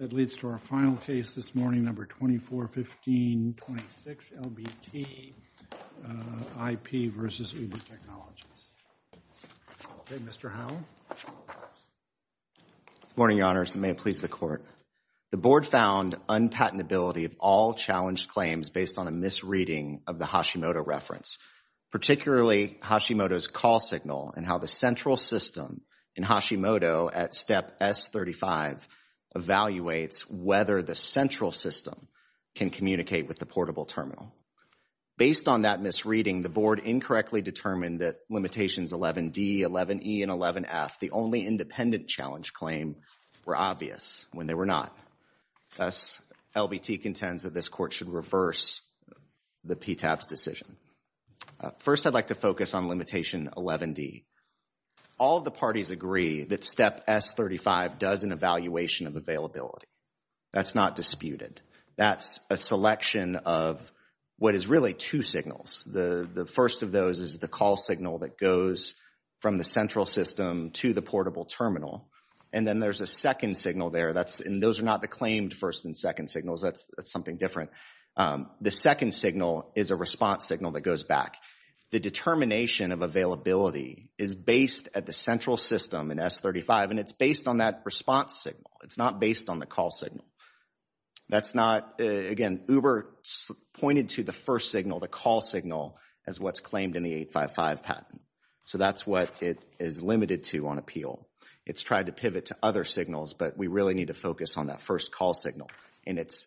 That leads to our final case this morning, number 2415.6, LBT IP versus Uber Technologies. Okay, Mr. Howell. Good morning, Your Honors, and may it please the Court. The Board found unpatentability of all challenged claims based on a misreading of the Hashimoto reference, particularly Hashimoto's call signal and how the central system in Hashimoto at Step S35 evaluates whether the central system can communicate with the portable terminal. Based on that misreading, the Board incorrectly determined that Limitations 11D, 11E, and 11F, the only independent challenge claim, were obvious when they were not. Thus, LBT contends that this Court should reverse the PTAB's decision. First, I'd like to focus on Limitation 11D. All of the parties agree that Step S35 does an evaluation of availability. That's not disputed. That's a selection of what is really two signals. The first of those is the call signal that goes from the central system to the portable terminal. And then there's a second signal there. And those are not the claimed first and second signals. That's something different. The second signal is a response signal that goes back. The determination of availability is based at the central system in S35, and it's based on that response signal. It's not based on the call signal. That's not, again, Uber pointed to the first signal, the call signal, as what's claimed in the 855 patent. So that's what it is limited to on appeal. It's tried to pivot to other signals, but we really need to focus on that first call signal. And it's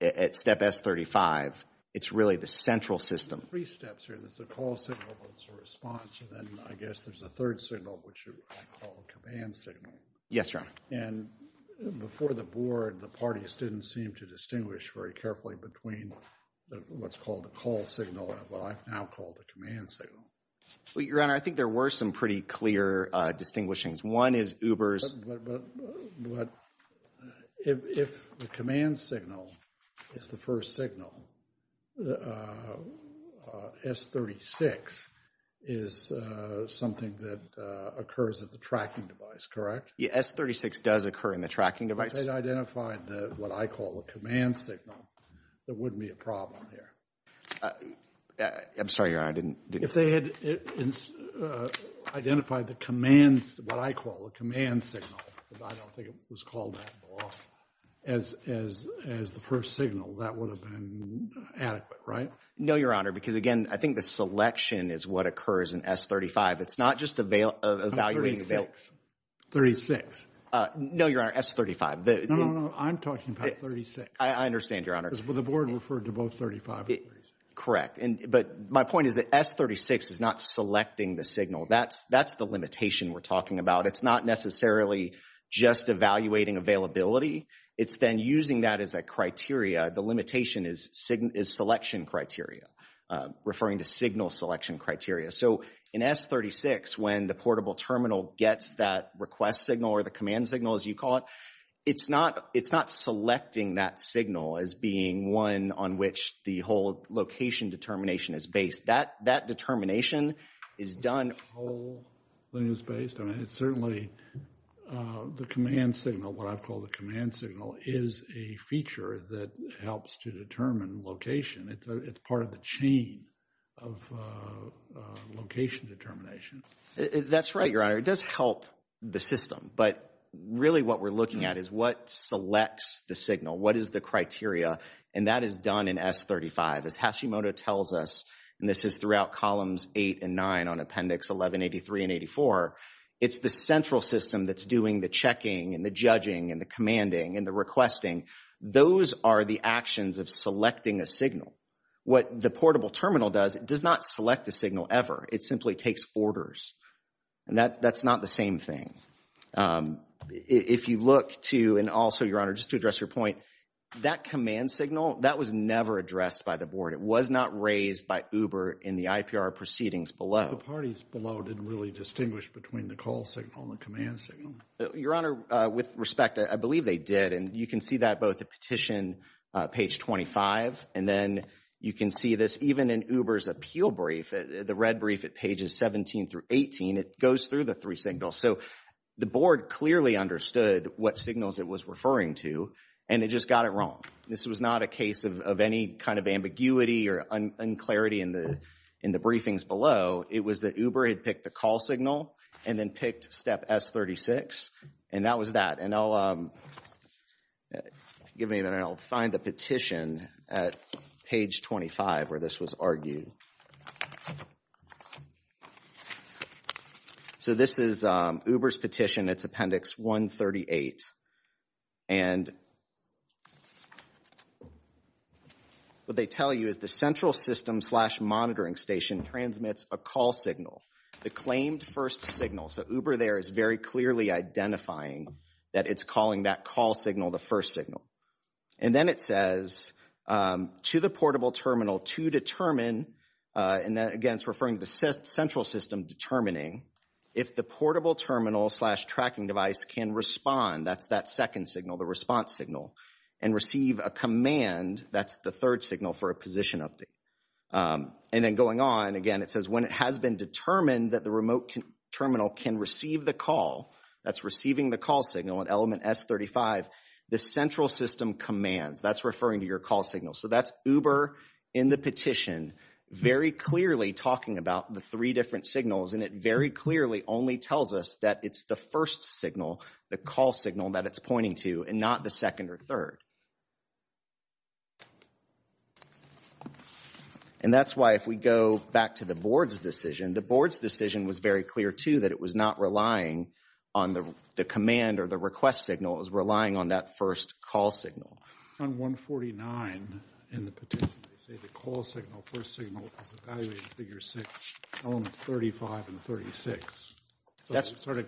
at Step S35, it's really the central system. There's three steps here. There's the call signal, there's the response, and then I guess there's a third signal, which I call the command signal. Yes, Your Honor. And before the Board, the parties didn't seem to distinguish very carefully between what's called the call signal and what I've now called the command signal. Well, Your Honor, I think there were some pretty clear distinguishings. One is Uber's. But if the command signal is the first signal, S36 is something that occurs at the tracking device, correct? Yes, S36 does occur in the tracking device. If they'd identified what I call the command signal, there wouldn't be a problem here. I'm sorry, Your Honor. If they had identified the commands, what I call the command signal, but I don't think it was called that at all, as the first signal, that would have been adequate, right? No, Your Honor, because, again, I think the selection is what occurs in S35. It's not just evaluating the bail. 36. No, Your Honor, S35. No, no, no, I'm talking about 36. I understand, Your Honor. The Board referred to both 35 and 36. Correct. But my point is that S36 is not selecting the signal. That's the limitation we're talking about. It's not necessarily just evaluating availability. It's then using that as a criteria. The limitation is selection criteria, referring to signal selection criteria. So in S36, when the portable terminal gets that request signal or the command signal, as you call it, it's not selecting that signal as being one on which the whole location determination is based. That determination is done. The whole thing is based on it. It's certainly the command signal, what I've called the command signal, is a feature that helps to determine location. It's part of the chain of location determination. That's right, Your Honor. It does help the system. But really what we're looking at is what selects the signal, what is the criteria, and that is done in S35. As Hashimoto tells us, and this is throughout columns 8 and 9 on Appendix 1183 and 84, it's the central system that's doing the checking and the judging and the commanding and the requesting. Those are the actions of selecting a signal. What the portable terminal does, it does not select a signal ever. It simply takes orders. And that's not the same thing. If you look to, and also, Your Honor, just to address your point, that command signal, that was never addressed by the board. It was not raised by Uber in the IPR proceedings below. The parties below didn't really distinguish between the call signal and the command signal. Your Honor, with respect, I believe they did. And you can see that both at petition page 25, and then you can see this even in Uber's appeal brief, the red brief at pages 17 through 18. It goes through the three signals. So the board clearly understood what signals it was referring to, and it just got it wrong. This was not a case of any kind of ambiguity or unclarity in the briefings below. It was that Uber had picked the call signal and then picked step S36. And that was that. And I'll find the petition at page 25 where this was argued. So this is Uber's petition. It's appendix 138. And what they tell you is the central system slash monitoring station transmits a call signal. The claimed first signal. So Uber there is very clearly identifying that it's calling that call signal the first signal. And then it says to the portable terminal to determine, and again it's referring to the central system determining, if the portable terminal slash tracking device can respond, that's that second signal, the response signal, and receive a command, that's the third signal for a position update. And then going on, again, it says when it has been determined that the remote terminal can receive the call, that's receiving the call signal at element S35, the central system commands. That's referring to your call signal. So that's Uber in the petition very clearly talking about the three different signals. And it very clearly only tells us that it's the first signal, the call signal that it's pointing to, and not the second or third. And that's why if we go back to the board's decision, the board's decision was very clear, too, that it was not relying on the command or the request signal. It was relying on that first call signal. On 149 in the petition, they say the call signal, first signal is evaluated in figure six, elements 35 and 36. So they started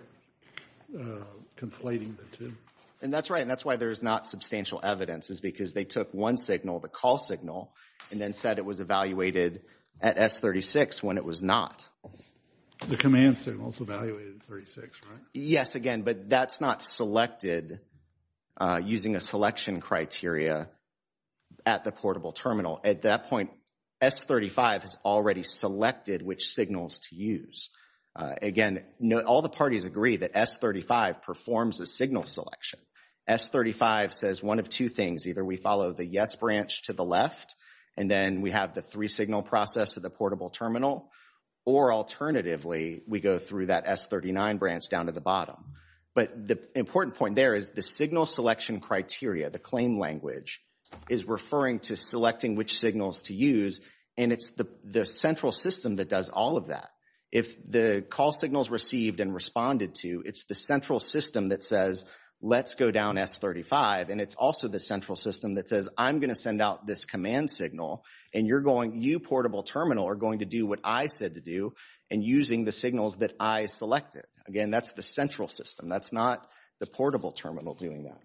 conflating the two. And that's right. And that's why there's not substantial evidence is because they took one signal, the call signal, and then said it was evaluated at S36 when it was not. The command signal is evaluated at 36, right? Yes, again, but that's not selected using a selection criteria at the portable terminal. At that point, S35 has already selected which signals to use. Again, all the parties agree that S35 performs a signal selection. S35 says one of two things. Either we follow the yes branch to the left, and then we have the three-signal process at the portable terminal, or alternatively, we go through that S39 branch down to the bottom. But the important point there is the signal selection criteria, the claim language, is referring to selecting which signals to use, and it's the central system that does all of that. If the call signal is received and responded to, it's the central system that says let's go down S35, and it's also the central system that says I'm going to send out this command signal, and you portable terminal are going to do what I said to do and using the signals that I selected. Again, that's the central system. That's not the portable terminal doing that.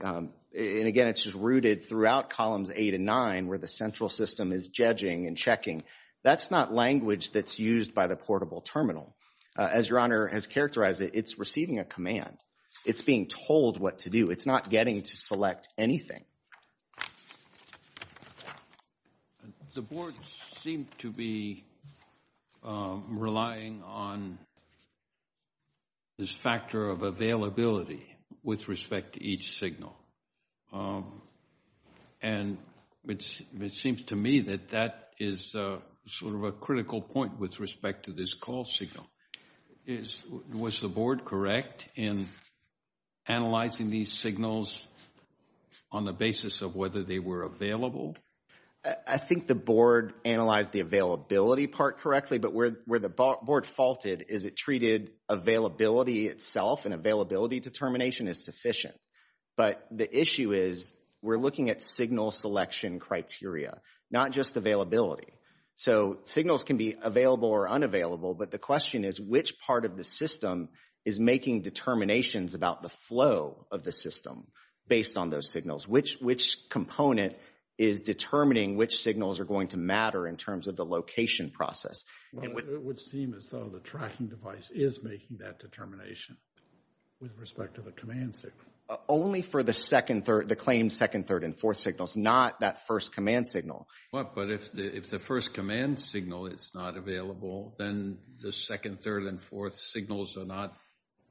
And again, it's just rooted throughout columns 8 and 9 where the central system is judging and checking. That's not language that's used by the portable terminal. As Your Honor has characterized it, it's receiving a command. It's being told what to do. It's not getting to select anything. The board seemed to be relying on this factor of availability with respect to each signal, and it seems to me that that is sort of a critical point with respect to this call signal. Was the board correct in analyzing these signals on the basis of whether they were available? I think the board analyzed the availability part correctly, but where the board faulted is it treated availability itself and availability determination as sufficient. But the issue is we're looking at signal selection criteria, not just availability. So signals can be available or unavailable, but the question is which part of the system is making determinations about the flow of the system based on those signals? Which component is determining which signals are going to matter in terms of the location process? It would seem as though the tracking device is making that determination with respect to the command signal. Only for the claimed second, third, and fourth signals, not that first command signal. But if the first command signal is not available, then the second, third, and fourth signals are not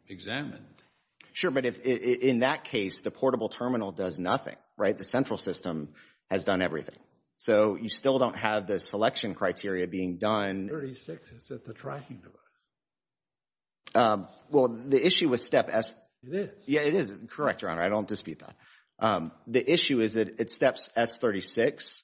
examined. Sure, but in that case, the portable terminal does nothing, right? The central system has done everything. So you still don't have the selection criteria being done. S36 is at the tracking device. Well, the issue with Step S... It is. Yeah, it is. Correct, Your Honor. I don't dispute that. The issue is that at Step S36,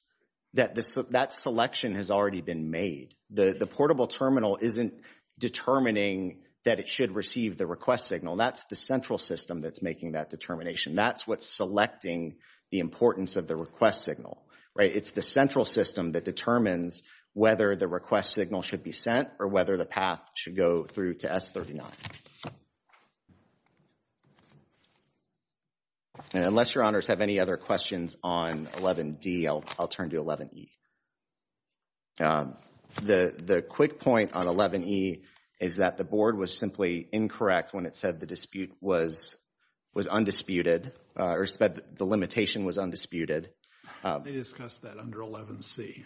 that selection has already been made. The portable terminal isn't determining that it should receive the request signal. That's the central system that's making that determination. That's what's selecting the importance of the request signal, right? It's the central system that determines whether the request signal should be sent or whether the path should go through to S39. And unless Your Honors have any other questions on 11D, I'll turn to 11E. The quick point on 11E is that the board was simply incorrect when it said the dispute was undisputed, or said the limitation was undisputed. They discussed that under 11C.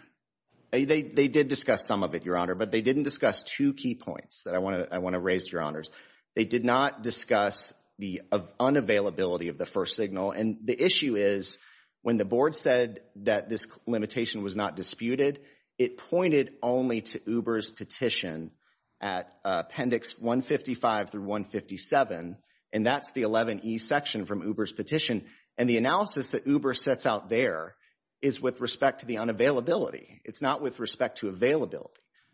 They did discuss some of it, Your Honor, but they didn't discuss two key points that I want to raise, Your Honors. They did not discuss the unavailability of the first signal. And the issue is when the board said that this limitation was not disputed, it pointed only to Uber's petition at Appendix 155 through 157. And that's the 11E section from Uber's petition. And the analysis that Uber sets out there is with respect to the unavailability. It's not with respect to availability.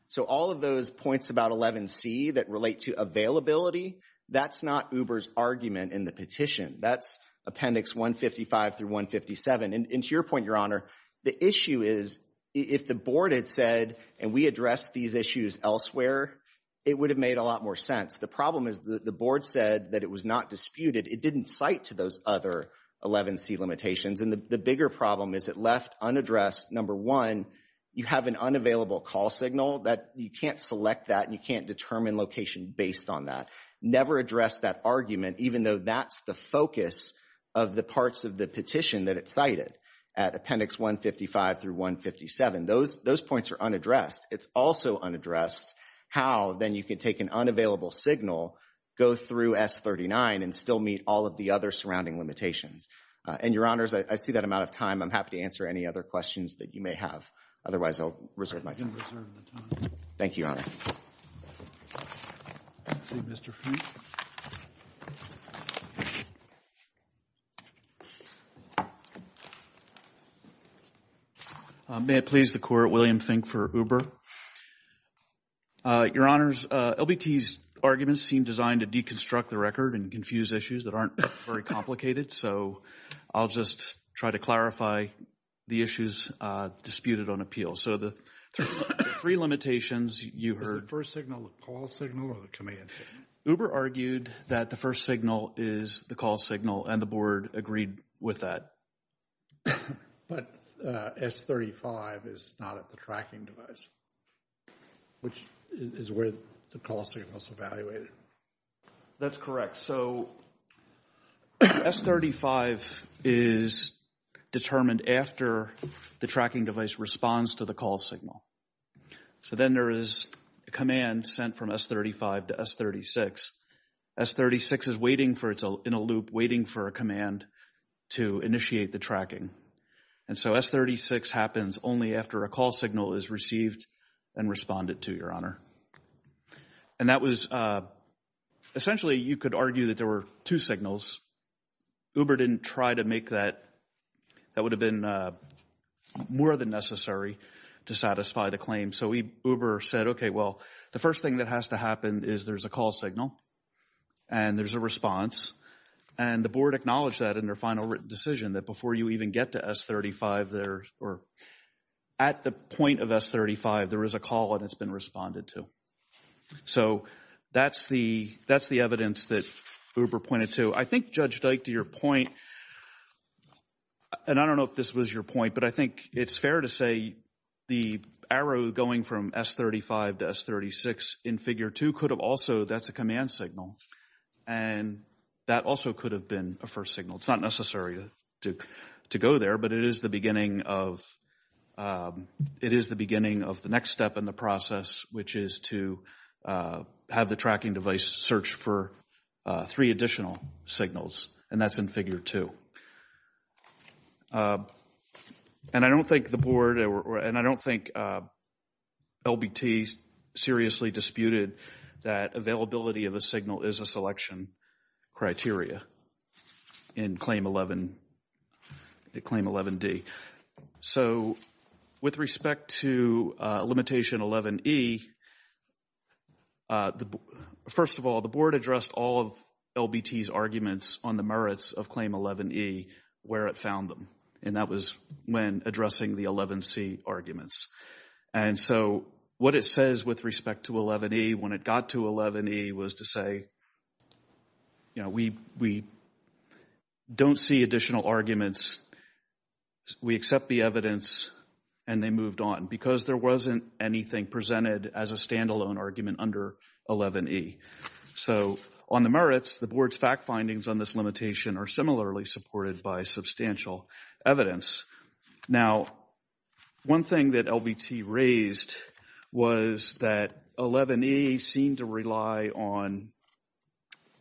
So all of those points about 11C that relate to availability, that's not Uber's argument in the petition. That's Appendix 155 through 157. And to your point, Your Honor, the issue is if the board had said, and we addressed these issues elsewhere, it would have made a lot more sense. The problem is the board said that it was not disputed. It didn't cite to those other 11C limitations. And the bigger problem is it left unaddressed, number one, you have an unavailable call signal. You can't select that and you can't determine location based on that. Never address that argument, even though that's the focus of the parts of the petition that it cited at Appendix 155 through 157. Those points are unaddressed. It's also unaddressed how, then, you can take an unavailable signal, go through S39, and still meet all of the other surrounding limitations. And, Your Honors, I see that I'm out of time. I'm happy to answer any other questions that you may have. Otherwise, I'll reserve my time. Thank you, Your Honor. Thank you, Mr. Fink. May it please the Court, William Fink for Uber. Your Honors, LBT's arguments seem designed to deconstruct the record and confuse issues that aren't very complicated. So I'll just try to clarify the issues disputed on appeal. So the three limitations you heard. Is the first signal the call signal or the command signal? Uber argued that the first signal is the call signal and the Board agreed with that. But S35 is not at the tracking device, which is where the call signal is evaluated. That's correct. So S35 is determined after the tracking device responds to the call signal. So then there is a command sent from S35 to S36. S36 is waiting in a loop, waiting for a command to initiate the tracking. And so S36 happens only after a call signal is received and responded to, Your Honor. And that was, essentially you could argue that there were two signals. Uber didn't try to make that. That would have been more than necessary to satisfy the claim. So Uber said, okay, well, the first thing that has to happen is there's a call signal and there's a response. And the Board acknowledged that in their final written decision that before you even get to S35, or at the point of S35, there is a call and it's been responded to. So that's the evidence that Uber pointed to. I think, Judge Dyke, to your point, and I don't know if this was your point, but I think it's fair to say the arrow going from S35 to S36 in Figure 2 could have also, that's a command signal, and that also could have been a first signal. It's not necessary to go there, but it is the beginning of the next step in the process, which is to have the tracking device search for three additional signals. And that's in Figure 2. And I don't think the Board, and I don't think LBT seriously disputed that availability of a signal is a selection criteria in Claim 11D. So with respect to Limitation 11E, first of all, the Board addressed all of LBT's arguments on the merits of Claim 11E, where it found them, and that was when addressing the 11C arguments. And so what it says with respect to 11E, when it got to 11E, was to say, you know, we don't see additional arguments. We accept the evidence, and they moved on, because there wasn't anything presented as a standalone argument under 11E. So on the merits, the Board's fact findings on this limitation are similarly supported by substantial evidence. Now, one thing that LBT raised was that 11E seemed to rely on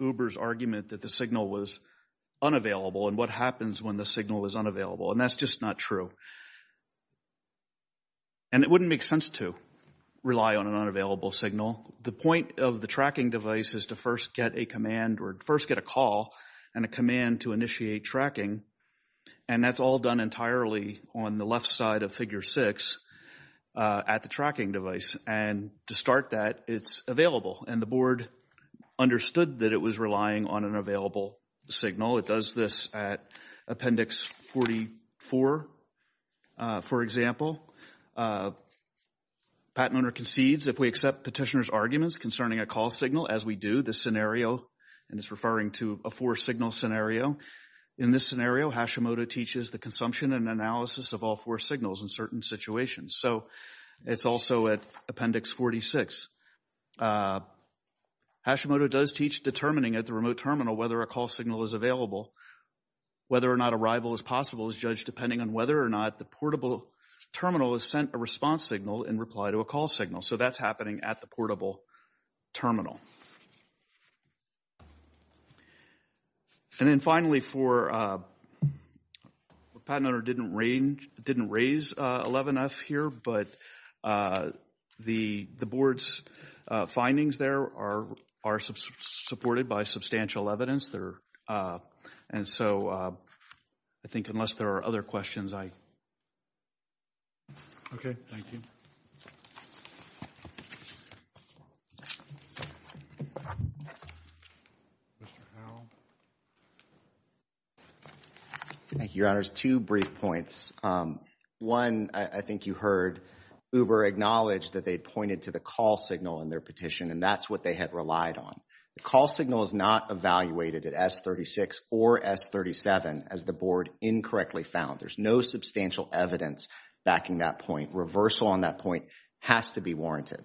Uber's argument that the signal was unavailable and what happens when the signal is unavailable, and that's just not true. And it wouldn't make sense to rely on an unavailable signal. The point of the tracking device is to first get a command or first get a call and a command to initiate tracking, and that's all done entirely on the left side of Figure 6 at the tracking device. And to start that, it's available, and the Board understood that it was relying on an available signal. It does this at Appendix 44, for example. Patent owner concedes if we accept petitioner's arguments concerning a call signal, as we do. And it's referring to a four-signal scenario. In this scenario, Hashimoto teaches the consumption and analysis of all four signals in certain situations. So it's also at Appendix 46. Hashimoto does teach determining at the remote terminal whether a call signal is available. Whether or not arrival is possible is judged depending on whether or not the portable terminal has sent a response signal in reply to a call signal. So that's happening at the portable terminal. And then, finally, for—the patent owner didn't raise 11F here, but the Board's findings there are supported by substantial evidence. And so I think unless there are other questions, I— Okay. Thank you. Mr. Howell. Thank you, Your Honors. Two brief points. One, I think you heard Uber acknowledge that they pointed to the call signal in their petition, and that's what they had relied on. The call signal is not evaluated at S36 or S37, as the Board incorrectly found. There's no substantial evidence backing that point. Reversal on that point has to be warranted.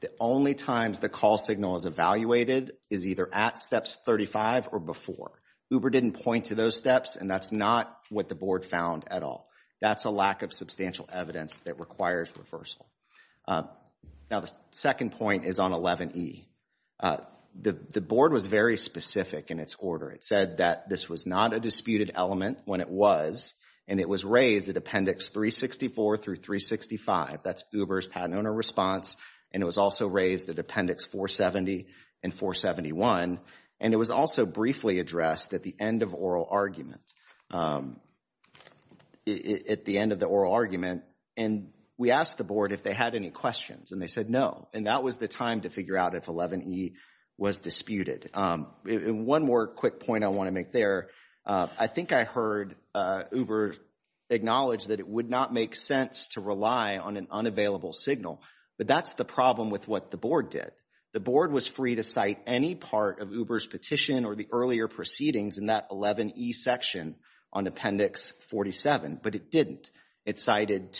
The only times the call signal is evaluated is either at Steps 35 or before. Uber didn't point to those steps, and that's not what the Board found at all. That's a lack of substantial evidence that requires reversal. Now, the second point is on 11E. The Board was very specific in its order. It said that this was not a disputed element when it was, and it was raised at Appendix 364 through 365. That's Uber's patent owner response, and it was also raised at Appendix 470 and 471. And it was also briefly addressed at the end of oral argument—at the end of the oral argument. And we asked the Board if they had any questions, and they said no. And that was the time to figure out if 11E was disputed. One more quick point I want to make there. I think I heard Uber acknowledge that it would not make sense to rely on an unavailable signal, but that's the problem with what the Board did. The Board was free to cite any part of Uber's petition or the earlier proceedings in that 11E section on Appendix 47, but it didn't. It cited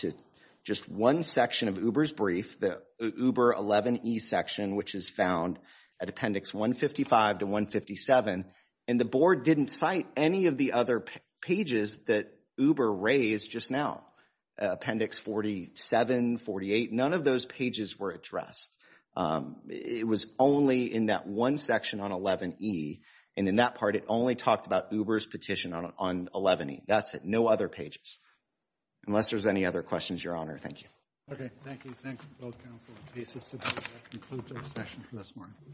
just one section of Uber's brief, the Uber 11E section, which is found at Appendix 155 to 157, and the Board didn't cite any of the other pages that Uber raised just now, Appendix 47, 48. None of those pages were addressed. It was only in that one section on 11E, and in that part, it only talked about Uber's petition on 11E. That's it. No other pages. Unless there's any other questions, Your Honor, thank you. Okay, thank you. Thanks to both counsel and cases. That concludes our session for this morning.